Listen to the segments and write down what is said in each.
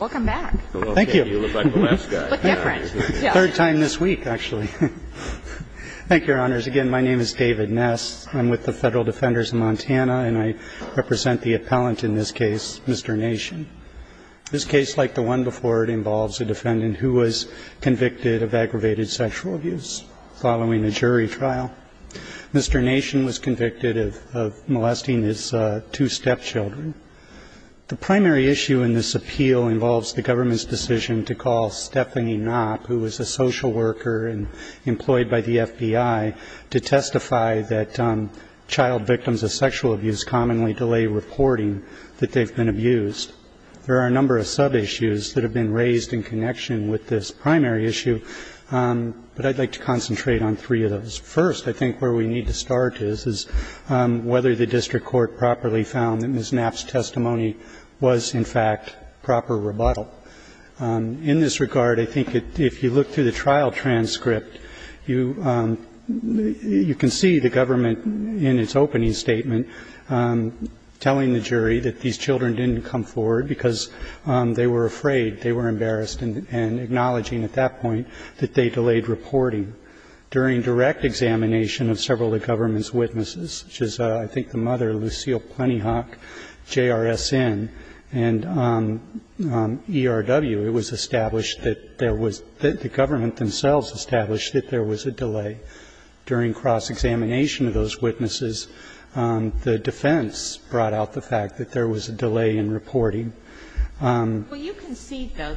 Welcome back. Thank you. You look like the last guy. Look different. Third time this week, actually. Thank you, Your Honors. Again, my name is David Ness. I'm with the Federal Defenders of Montana, and I represent the appellant in this case, Mr. Nation. This case, like the one before it, involves a defendant who was convicted of aggravated sexual abuse following a jury trial. Mr. Nation was convicted of molesting his two stepchildren. The primary issue in this appeal involves the government's decision to call Stephanie Knopp, who was a social worker and employed by the FBI, to testify that child victims of sexual abuse commonly delay reporting that they've been abused. There are a number of sub-issues that have been raised in connection with this primary issue, but I'd like to concentrate on three of those. First, I think where we need to start is whether the district court properly found that Ms. Knopp's testimony was, in fact, proper rebuttal. In this regard, I think if you look through the trial transcript, you can see the government in its opening statement telling the jury that these children didn't come forward because they were afraid, they were embarrassed, and acknowledging at that point that they delayed reporting. During direct examination of several of the government's witnesses, which is, I think, the mother, Lucille Plentyhawk, JRSN and ERW, it was established that there was the government themselves established that there was a delay. During cross-examination of those witnesses, the defense brought out the fact that there was a delay in reporting. Well, you concede, though,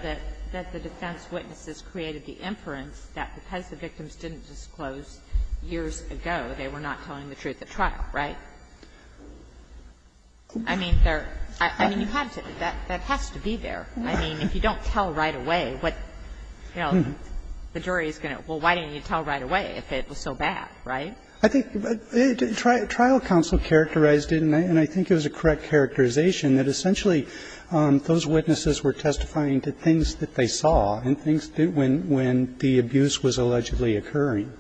that the defense witnesses created the inference that because the victims didn't disclose years ago, they were not telling the truth at trial, right? I mean, there are – I mean, you have to – that has to be there. I mean, if you don't tell right away, what – you know, the jury is going to – well, why didn't you tell right away if it was so bad, right? I think trial counsel characterized it, and I think it was a correct characterization, that essentially those witnesses were testifying to things that they saw and things that – when the abuse was allegedly occurring.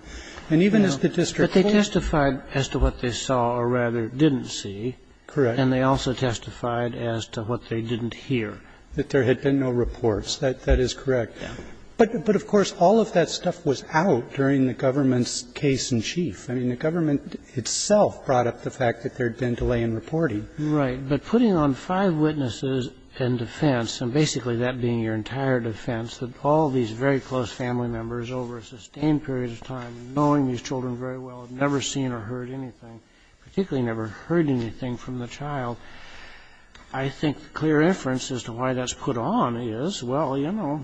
And even as the district court – But they testified as to what they saw, or rather didn't see. Correct. And they also testified as to what they didn't hear. That there had been no reports. That is correct. Yeah. But of course, all of that stuff was out during the government's case in chief. I mean, the government itself brought up the fact that there had been delay in reporting. Right. But putting on five witnesses and defense, and basically that being your entire defense, that all these very close family members over a sustained period of time knowing these children very well, never seen or heard anything, particularly never heard anything from the child, I think the clear inference as to why that's put on is, well, you know,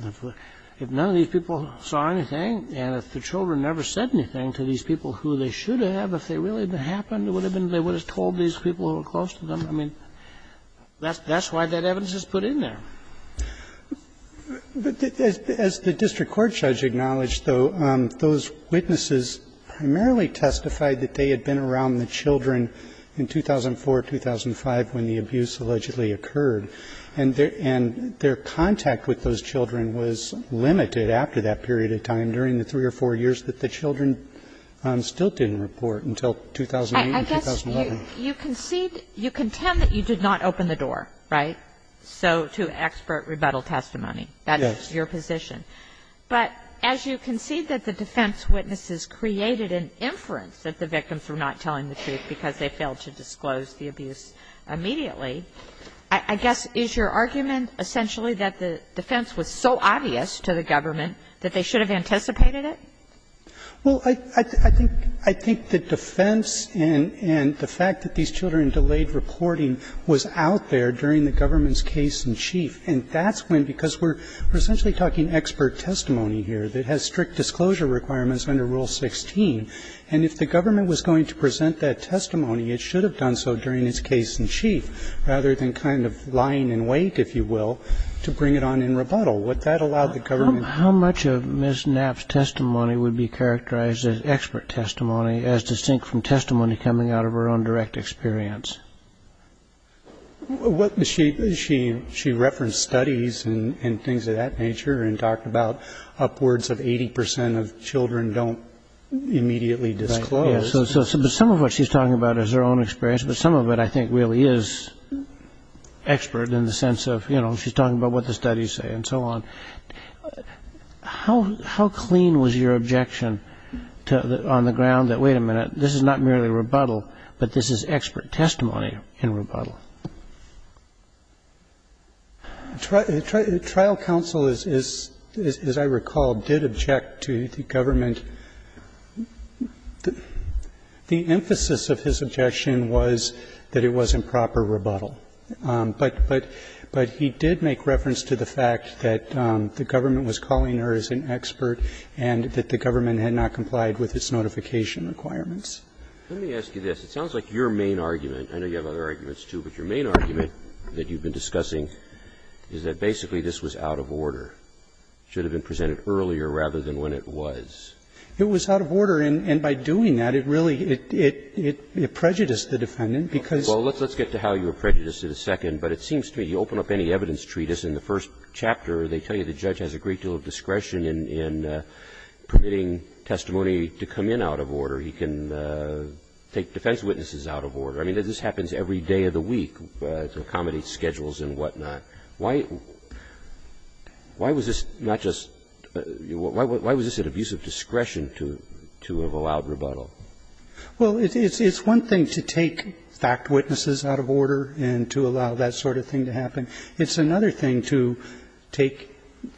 if none of these people saw anything and if the children never said anything to these people who they should have, if they really happened, they would have told these people who were close to them. I mean, that's why that evidence is put in there. But as the district court judge acknowledged, though, those witnesses primarily testified that they had been around the children in 2004, 2005 when the abuse allegedly occurred, and their contact with those children was limited after that period of time during the three or four years that the children still didn't report until 2008 and 2011. I guess you conceded you contend that you did not open the door, right? So to expert rebuttal testimony, that's your position. But as you concede that the defense witnesses created an inference that the victims were not telling the truth because they failed to disclose the abuse immediately, I guess, is your argument essentially that the defense was so obvious to the government that they should have anticipated it? Well, I think the defense and the fact that these children delayed reporting was out there during the government's case-in-chief. And that's when, because we're essentially talking expert testimony here that has strict disclosure requirements under Rule 16. And if the government was going to present that testimony, it should have done so during its case-in-chief rather than kind of lying in wait, if you will, to bring it on in rebuttal. Would that allow the government? How much of Ms. Knapp's testimony would be characterized as expert testimony as distinct from testimony coming out of her own direct experience? She referenced studies and things of that nature and talked about upwards of 80 percent of children don't immediately disclose. Right. But some of what she's talking about is her own experience. But some of it, I think, really is expert in the sense of she's talking about what the studies say and so on. How clean was your objection on the ground that, wait a minute, this is not merely rebuttal, but this is expert testimony in rebuttal? Trial counsel, as I recall, did object to the government. The emphasis of his objection was that it was improper rebuttal. But he did make reference to the fact that the government was calling her as an expert and that the government had not complied with its notification requirements. Let me ask you this. It sounds like your main argument, I know you have other arguments, too, but your main argument that you've been discussing is that basically this was out of order, should have been presented earlier rather than when it was. It was out of order. And by doing that, it really prejudiced the defendant, because the defendant was not going to be able to do that. And I'm not going to go into any more of that in a second. But it seems to me, you open up any evidence treatise in the first chapter, they tell you the judge has a great deal of discretion in permitting testimony to come in out of order. He can take defense witnesses out of order. I mean, this happens every day of the week to accommodate schedules and whatnot. Why was this not just — why was this an abuse of discretion to have allowed rebuttal? Well, it's one thing to take fact witnesses out of order and to allow that sort of thing to happen. It's another thing to take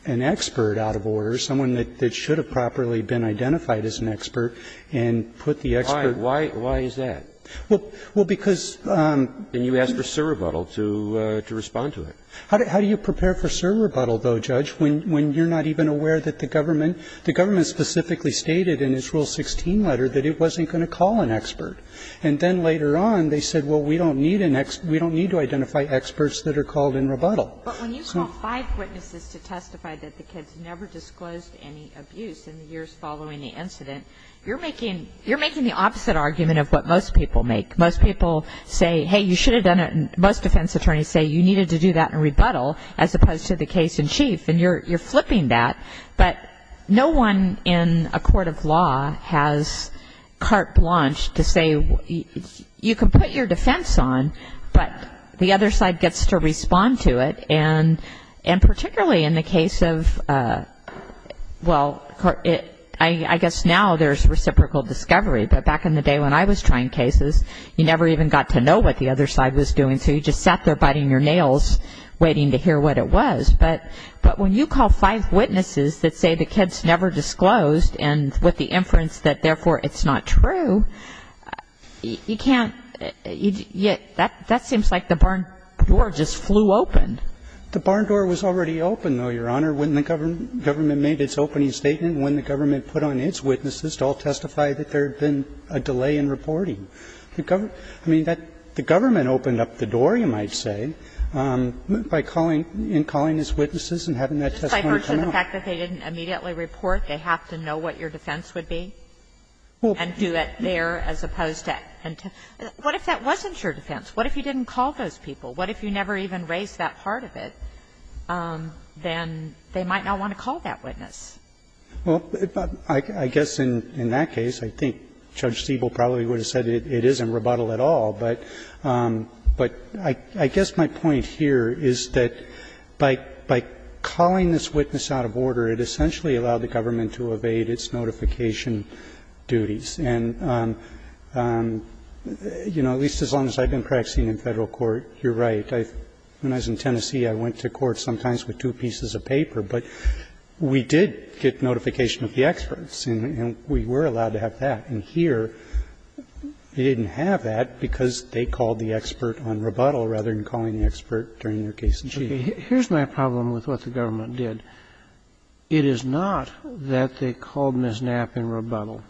an expert out of order, someone that should have properly been identified as an expert, and put the expert at risk. Why is that? Well, because you ask for serve rebuttal to respond to it. How do you prepare for serve rebuttal, though, Judge, when you're not even aware that the government — the government specifically stated in its Rule 16 letter that it wasn't going to call an expert? And then later on, they said, well, we don't need an — we don't need to identify experts that are called in rebuttal. But when you call five witnesses to testify that the kids never disclosed any abuse in the years following the incident, you're making — you're making the opposite argument of what most people make. Most people say, hey, you should have done it. And most defense attorneys say you needed to do that in rebuttal as opposed to the case in chief. And you're flipping that. But no one in a court of law has carte blanche to say you can put your defense on, but the other side gets to respond to it. And particularly in the case of — well, I guess now there's reciprocal discovery. But back in the day when I was trying cases, you never even got to know what the other side was doing. So you just sat there biting your nails waiting to hear what it was. But when you call five witnesses that say the kids never disclosed and with the inference that therefore it's not true, you can't — that seems like the barn door just flew open. The barn door was already open, though, Your Honor, when the government made its opening statement, when the government put on its witnesses to all testify that there had been a delay in reporting. The government — I mean, the government opened up the door, you might say, by calling — in calling its witnesses and having that testimony come out. Kagan Just by virtue of the fact that they didn't immediately report, they have to know what your defense would be? And do it there as opposed to — what if that wasn't your defense? What if you didn't call those people? What if you never even raised that part of it? Then they might not want to call that witness. Well, I guess in that case, I think Judge Stiebel probably would have said it isn't rebuttal at all. But I guess my point here is that by calling this witness out of order, it essentially allowed the government to evade its notification duties. And, you know, at least as long as I've been practicing in Federal court, you're right. When I was in Tennessee, I went to court sometimes with two pieces of paper. But we did get notification of the experts, and we were allowed to have that. And here, they didn't have that because they called the expert on rebuttal rather than calling the expert during their case in chief. Here's my problem with what the government did. It is not that they called Ms. Knapp in rebuttal,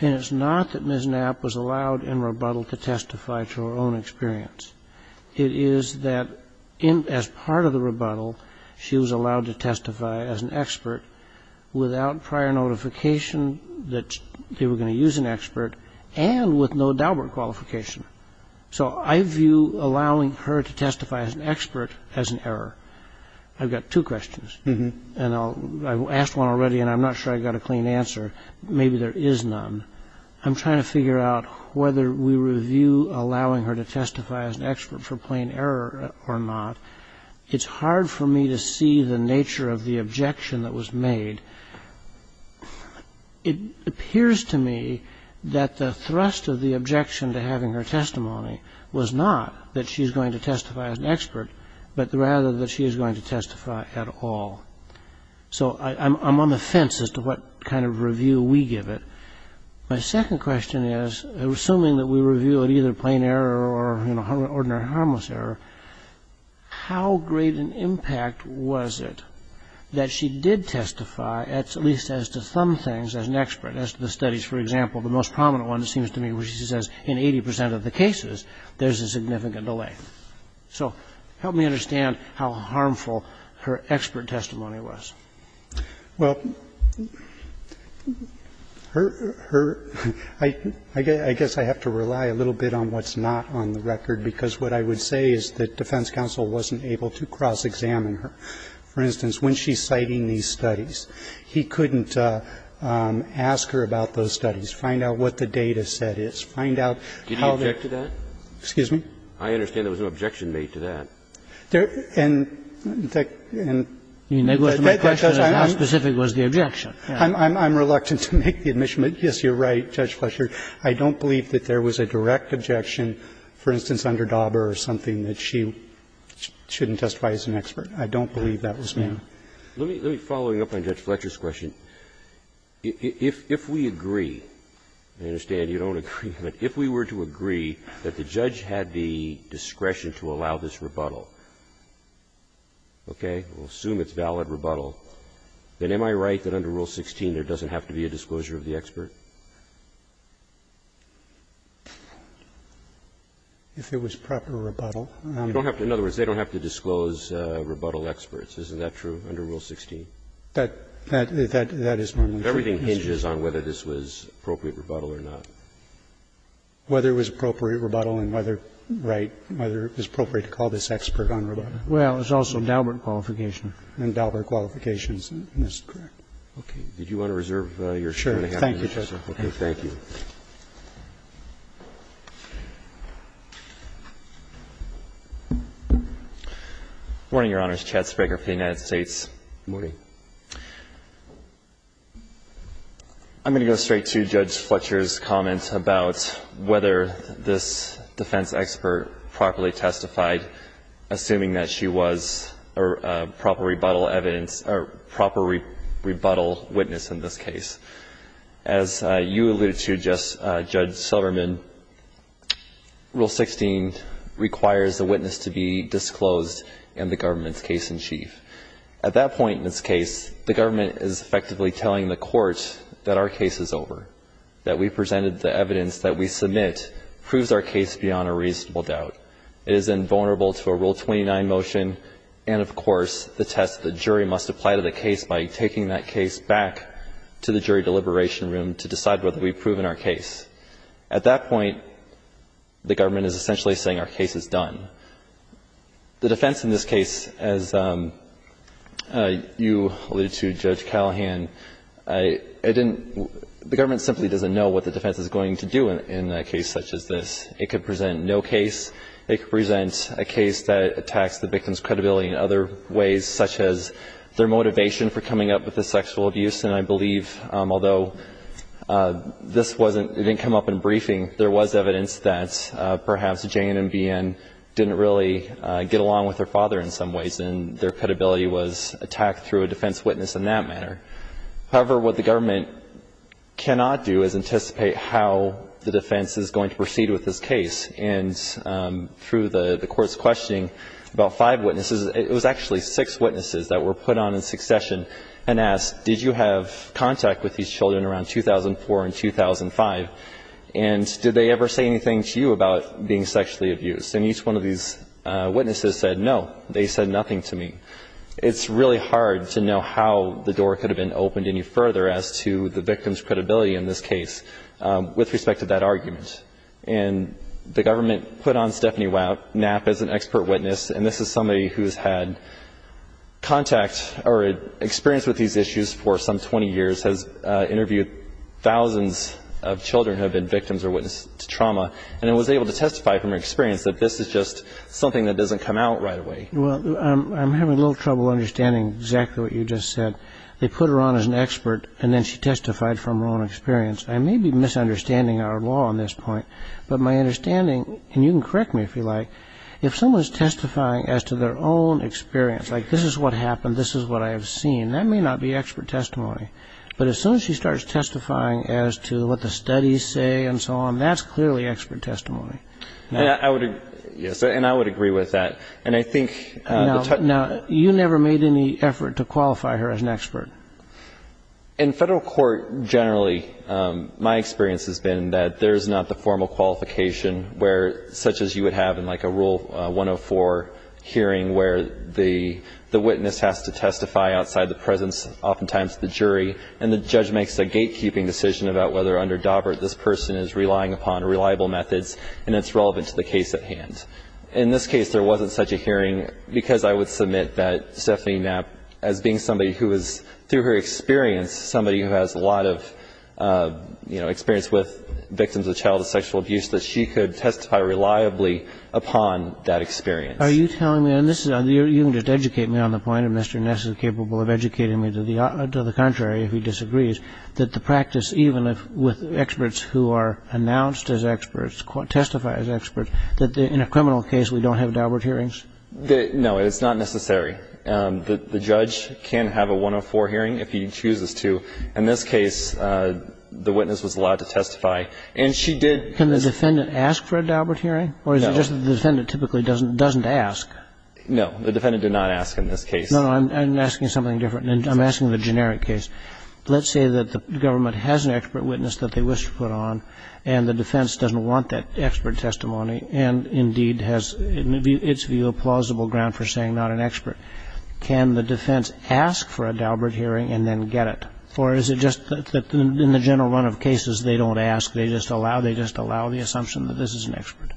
and it's not that Ms. Knapp was allowed in rebuttal to testify to her own experience. It is that as part of the rebuttal, she was allowed to testify as an expert without prior notification that they were going to use an expert and with no Daubert qualification. So I view allowing her to testify as an expert as an error. I've got two questions, and I've asked one already, and I'm not sure I've got a clean answer. Maybe there is none. I'm trying to figure out whether we review allowing her to testify as an expert for plain error or not. It's hard for me to see the nature of the objection that was made. It appears to me that the thrust of the objection to having her testimony was not that she's going to testify as an expert but rather that she is going to testify at all. So I'm on the fence as to what kind of review we give it. My second question is, assuming that we review it either plain error or, you know, Daubert qualification, how great an impact was it that she did testify at least as to some things as an expert, as to the studies? For example, the most prominent one, it seems to me, where she says in 80 percent of the cases, there's a significant delay. So help me understand how harmful her expert testimony was. Well, I guess I have to rely a little bit on what's not on the record, because what I would say is that defense counsel wasn't able to cross-examine her. For instance, when she's citing these studies, he couldn't ask her about those studies, find out what the data set is, find out how the other. Did he object to that? Excuse me? I understand there was no objection made to that. And the question is, how specific was the objection? I'm reluctant to make the admission, but yes, you're right, Judge Fletcher. I don't believe that there was a direct objection, for instance, under Daubert or something, that she shouldn't testify as an expert. I don't believe that was made. Let me follow up on Judge Fletcher's question. If we agree, I understand you don't agree, but if we were to agree that the judge had the discretion to allow this rebuttal, okay, we'll assume it's valid rebuttal, then am I right that under Rule 16 there doesn't have to be a disclosure of the expert? If it was proper rebuttal. You don't have to – in other words, they don't have to disclose rebuttal experts. Isn't that true under Rule 16? That – that is normal. Everything hinges on whether this was appropriate rebuttal or not. Whether it was appropriate rebuttal and whether, right, whether it was appropriate to call this expert on rebuttal. Well, there's also Daubert qualification, and Daubert qualifications, and that's correct. Okay. Did you want to reserve your time? Thank you, Justice. Okay, thank you. Morning, Your Honors. Chad Spraker for the United States. Morning. I'm going to go straight to Judge Fletcher's comment about whether this defense expert properly testified, assuming that she was a proper rebuttal witness in this case. As you alluded to, Judge Silverman, Rule 16 requires a witness to be disclosed in the government's case in chief. At that point in this case, the government is effectively telling the court that our case is over, that we presented the evidence that we submit proves our case beyond a reasonable doubt. It is invulnerable to a Rule 29 motion and, of course, the test the jury must apply to the case by taking that case back to the jury deliberation room to decide whether we've proven our case. At that point, the government is essentially saying our case is done. The defense in this case, as you alluded to, Judge Callahan, it didn't – the government simply doesn't know what the defense is going to do in a case such as this. It could present no case. It could present a case that attacks the victim's credibility in other ways, such as their motivation for coming up with the sexual abuse. And I believe, although this wasn't – it didn't come up in briefing, there was evidence that perhaps Jane and BN didn't really get along with their father in some ways and their credibility was attacked through a defense witness in that manner. However, what the government cannot do is anticipate how the defense is going to proceed with this case. And through the Court's questioning about five witnesses, it was actually six witnesses that were put on in succession and asked, did you have contact with these children around 2004 and 2005? And did they ever say anything to you about being sexually abused? And each one of these witnesses said, no, they said nothing to me. It's really hard to know how the door could have been opened any further as to the victim's credibility in this case with respect to that argument. And the government put on Stephanie Knapp as an expert witness, and this is somebody who's had contact or experience with these issues for some 20 years, has interviewed thousands of children who have been victims or witnesses to trauma, and was able to testify from her experience that this is just something that doesn't come out right away. Well, I'm having a little trouble understanding exactly what you just said. They put her on as an expert, and then she testified from her own experience. I may be misunderstanding our law on this point, but my understanding, and you can correct me if you like, if someone is testifying as to their own experience, like this is what happened, this is what I have seen, that may not be expert testimony. But as soon as she starts testifying as to what the studies say and so on, that's clearly expert testimony. And I would agree with that. And I think the touch point... No, you never made any effort to qualify her as an expert. In Federal court generally, my experience has been that there's not the formal qualification where, such as you would have in like a Rule 104 hearing where the witness has to testify outside the presence, oftentimes the jury, and the judge makes a gatekeeping decision about whether under Daubert this person is relying upon reliable methods and it's relevant to the case at hand. In this case, there wasn't such a hearing because I would submit that Stephanie Knapp, as being somebody who is, through her experience, somebody who has a lot of experience with victims of childhood sexual abuse, that she could testify reliably upon that experience. Are you telling me, and you can just educate me on the point, and Mr. Ness is capable of educating me to the contrary if he disagrees, that the practice, even with experts who are announced as experts, testify as experts, that in a criminal case we don't have Daubert hearings? No. It's not necessary. The judge can have a 104 hearing if he chooses to. In this case, the witness was allowed to testify, and she did. Can the defendant ask for a Daubert hearing? No. Or is it just that the defendant typically doesn't ask? No. The defendant did not ask in this case. No, no. I'm asking something different. I'm asking the generic case. Let's say that the government has an expert witness that they wish to put on and the saying not an expert. Can the defense ask for a Daubert hearing and then get it? Or is it just that in the general run of cases they don't ask, they just allow the assumption that this is an expert?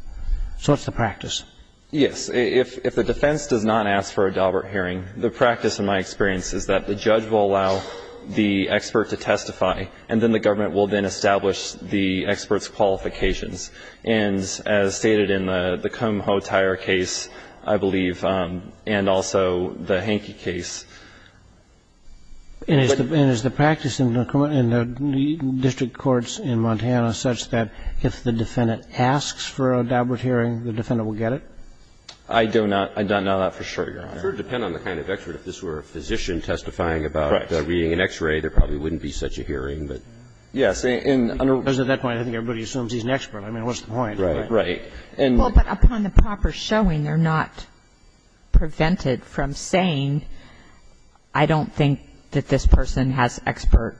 So what's the practice? Yes. If the defense does not ask for a Daubert hearing, the practice in my experience is that the judge will allow the expert to testify, and then the government will then establish the expert's qualifications. And as stated in the Kumho-Tyre case, I believe, and also the Hankey case. And is the practice in the district courts in Montana such that if the defendant asks for a Daubert hearing, the defendant will get it? I do not. I do not know that for sure, Your Honor. It would depend on the kind of expert. If this were a physician testifying about reading an X-ray, there probably wouldn't be such a hearing. Yes. Because at that point, I think everybody assumes he's an expert. I mean, what's the point? Right. Right. Well, but upon the proper showing, they're not prevented from saying, I don't think that this person has expert,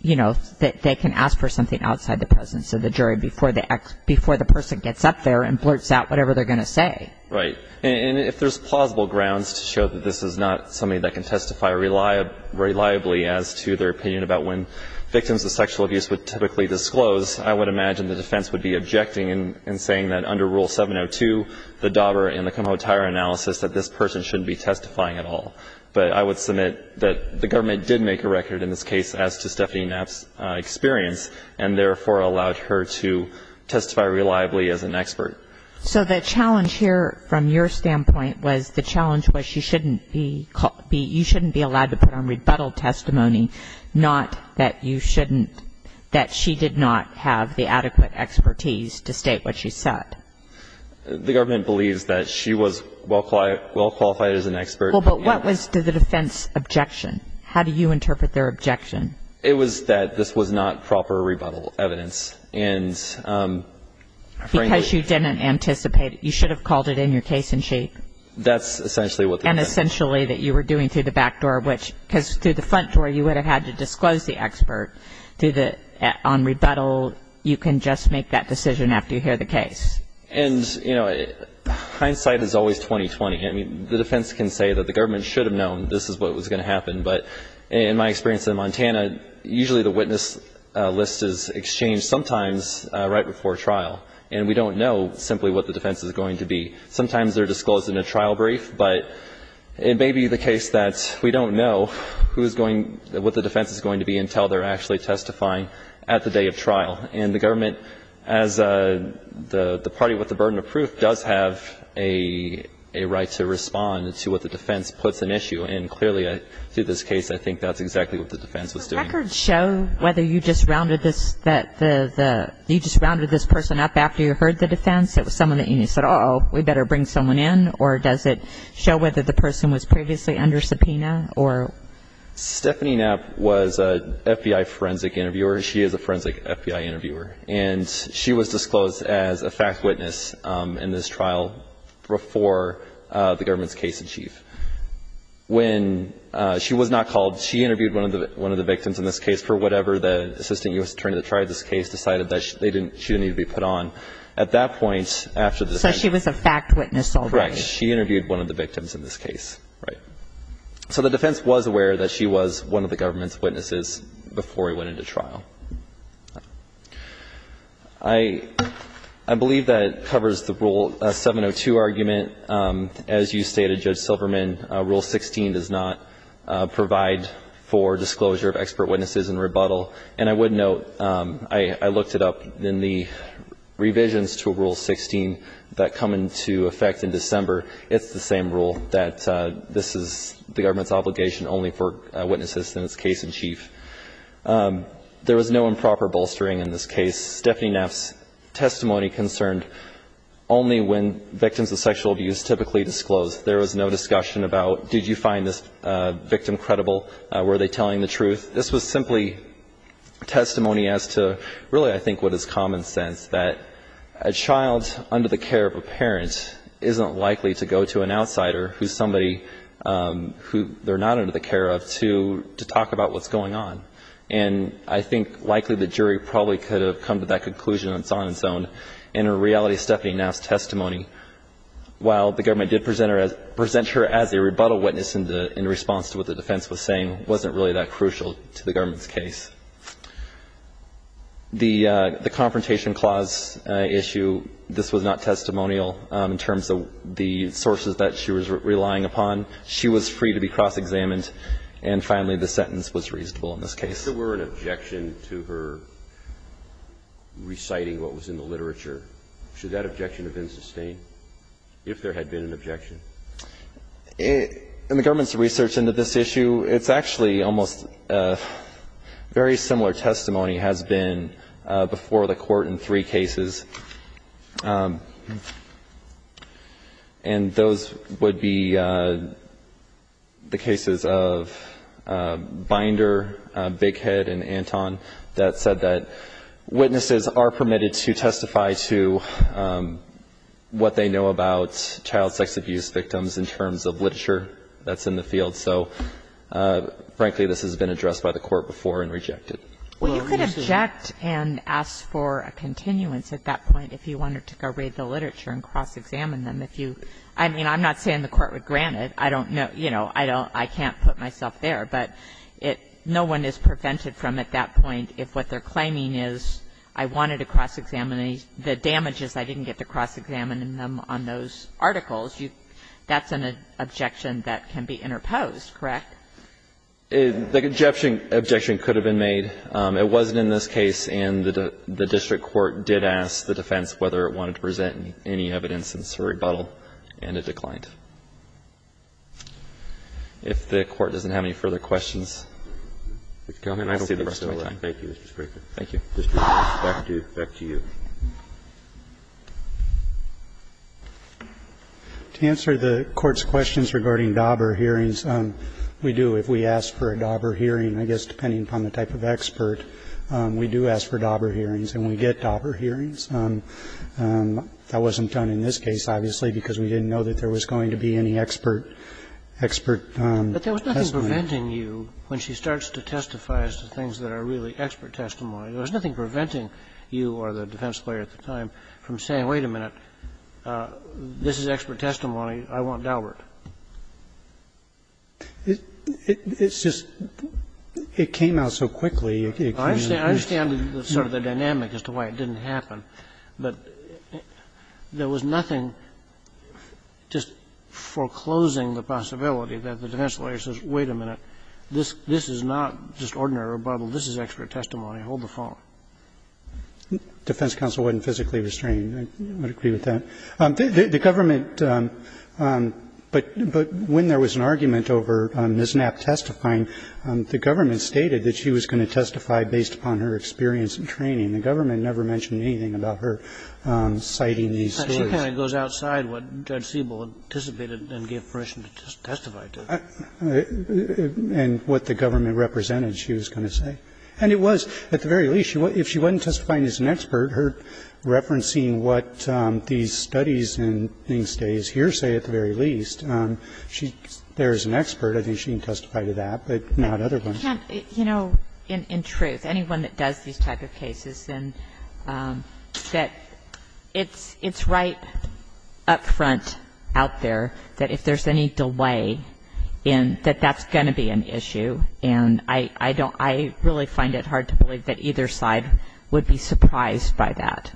you know, that they can ask for something outside the presence of the jury before the person gets up there and blurts out whatever they're going to say. Right. And if there's plausible grounds to show that this is not somebody that can testify reliably as to their opinion about when victims of sexual abuse would typically disclose, I would imagine the defense would be objecting and saying that under Rule 702, the Daubert and the Kumho-Tyra analysis, that this person shouldn't be testifying at all. But I would submit that the government did make a record in this case as to Stephanie Knapp's experience, and therefore allowed her to testify reliably as an expert. So the challenge here from your standpoint was the challenge was you shouldn't be allowed to put on rebuttal testimony, not that you shouldn't, that she did not have the adequate expertise to state what she said. The government believes that she was well qualified as an expert. Well, but what was the defense objection? How do you interpret their objection? It was that this was not proper rebuttal evidence. And frankly ---- Because you didn't anticipate it. You should have called it in your case in shape. That's essentially what the defense ---- And essentially that you were doing through the back door, which ---- because through the front door, you would have had to disclose the expert. On rebuttal, you can just make that decision after you hear the case. And, you know, hindsight is always 20-20. I mean, the defense can say that the government should have known this is what was going to happen. But in my experience in Montana, usually the witness list is exchanged sometimes right before trial. And we don't know simply what the defense is going to be. Sometimes they're disclosed in a trial brief. But it may be the case that we don't know who is going ---- what the defense is going to be until they're actually testifying at the day of trial. And the government, as the party with the burden of proof, does have a right to respond to what the defense puts an issue. And clearly through this case, I think that's exactly what the defense was doing. So records show whether you just rounded this ---- that the ---- you just rounded this person up after you heard the defense. It was someone that you said, uh-oh, we better bring someone in. Or does it show whether the person was previously under subpoena or ---- Stephanie Knapp was a FBI forensic interviewer. She is a forensic FBI interviewer. And she was disclosed as a fact witness in this trial before the government's case in chief. When she was not called, she interviewed one of the victims in this case for whatever the assistant U.S. attorney that tried this case decided that she didn't need to be put on. At that point, after the ---- So she was a fact witness already. Correct. She interviewed one of the victims in this case. Right. So the defense was aware that she was one of the government's witnesses before it went into trial. I believe that covers the Rule 702 argument. As you stated, Judge Silverman, Rule 16 does not provide for disclosure of expert witnesses in rebuttal. And I would note, I looked it up in the revisions to Rule 16 that come into effect in December. It's the same rule, that this is the government's obligation only for witnesses in its case in chief. There was no improper bolstering in this case. Stephanie Knapp's testimony concerned only when victims of sexual abuse typically disclosed. There was no discussion about did you find this victim credible, were they telling the truth. This was simply testimony as to really I think what is common sense, that a child under the care of a parent isn't likely to go to an outsider who's somebody who they're not under the care of to talk about what's going on. And I think likely the jury probably could have come to that conclusion on its own. In reality, Stephanie Knapp's testimony, while the government did present her as a rebuttal witness in response to what the defense was saying, wasn't really that crucial to the government's case. The confrontation clause issue, this was not testimonial in terms of the sources that she was relying upon. She was free to be cross-examined. And finally, the sentence was reasonable in this case. If there were an objection to her reciting what was in the literature, should that objection have been sustained? If there had been an objection. In the government's research into this issue, it's actually almost very similar testimony has been before the Court in three cases. And those would be the cases of Binder, Bighead and Anton that said that witnesses are permitted to testify to what they know about child sex abuse victims in terms of literature that's in the field. So, frankly, this has been addressed by the Court before and rejected. Well, you could object and ask for a continuance at that point if you wanted to go read the literature and cross-examine them. I mean, I'm not saying the Court would grant it. I don't know, you know, I can't put myself there. But no one is prevented from, at that point, if what they're claiming is I wanted to cross-examine the damages, I didn't get to cross-examine them on those articles. That's an objection that can be interposed, correct? The objection could have been made. It wasn't in this case. And the district court did ask the defense whether it wanted to present any evidence since the rebuttal, and it declined. If the Court doesn't have any further questions, go ahead. I don't see the rest of my time. Thank you, Mr. Spicer. Thank you. Back to you. To answer the Court's questions regarding Dauber hearings, we do, if we ask for a Dauber hearing, I guess depending upon the type of expert, we do ask for Dauber hearings and we get Dauber hearings. That wasn't done in this case, obviously, because we didn't know that there was going to be any expert, expert testimony. But there was nothing preventing you, when she starts to testify as to things that are really expert testimony, there was nothing preventing you or the defense player at the time from saying, wait a minute, this is expert testimony, I want Dauber. It's just, it came out so quickly. I understand the sort of the dynamic as to why it didn't happen, but there was nothing just foreclosing the possibility that the defense lawyer says, wait a minute, this is not just ordinary rebuttal, this is expert testimony, hold the phone. Defense counsel wouldn't physically restrain. I would agree with that. The government, but when there was an argument over Ms. Knapp testifying, the government stated that she was going to testify based upon her experience and training. The government never mentioned anything about her citing these stories. Kennedy. But she kind of goes outside what Judge Siebel anticipated and gave permission to testify to. And what the government represented, she was going to say. And it was, at the very least, if she wasn't testifying as an expert, her referencing what these studies and things say is hearsay, at the very least. She's there as an expert. I think she can testify to that, but not other ones. You know, in truth, anyone that does these type of cases, then it's right up front out there that if there's any delay, that that's going to be an issue. And I really find it hard to believe that either side would be surprised by that.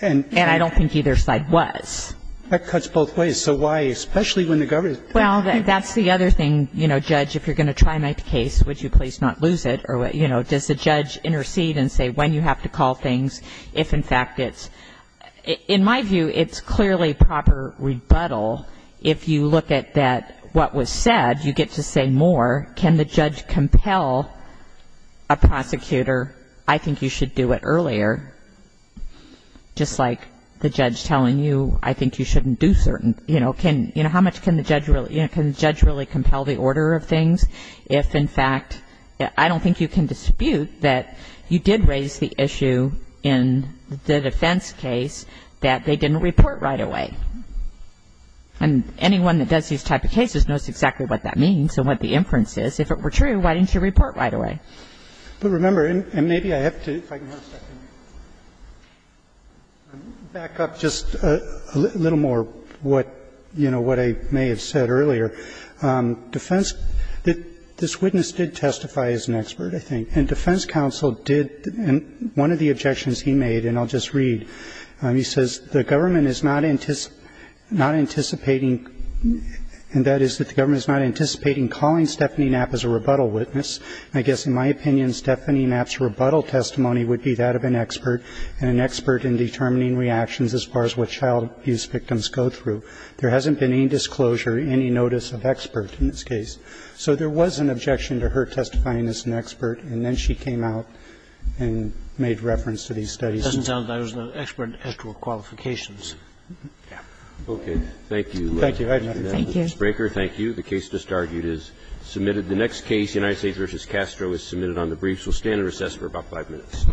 And I don't think either side was. That cuts both ways. So why, especially when the government. Well, that's the other thing. You know, Judge, if you're going to try my case, would you please not lose it? Or, you know, does the judge intercede and say when you have to call things if, in fact, it's. In my view, it's clearly proper rebuttal. If you look at what was said, you get to say more. Can the judge compel a prosecutor, I think you should do it earlier, just like the judge compelled the order of things. If, in fact, I don't think you can dispute that you did raise the issue in the defense case that they didn't report right away. And anyone that does these type of cases knows exactly what that means and what the inference is. If it were true, why didn't you report right away? But remember, and maybe I have to, if I can have a second. Back up just a little more what, you know, what I may have said earlier. Defense, this witness did testify as an expert, I think. And defense counsel did. And one of the objections he made, and I'll just read, he says, the government is not anticipating, and that is that the government is not anticipating calling Stephanie Knapp as a rebuttal witness. I guess, in my opinion, Stephanie Knapp's rebuttal testimony would be that of an expert and an expert in determining reactions as far as what child abuse victims go through. There hasn't been any disclosure, any notice of expert in this case. So there was an objection to her testifying as an expert, and then she came out and made reference to these studies. It doesn't sound like I was an expert as to qualifications. Okay. Thank you. Thank you. I have nothing to add. Thank you. Thank you. The case just argued is submitted. The next case, United States v. Castro, is submitted on the briefs. We'll stand in recess for about five minutes.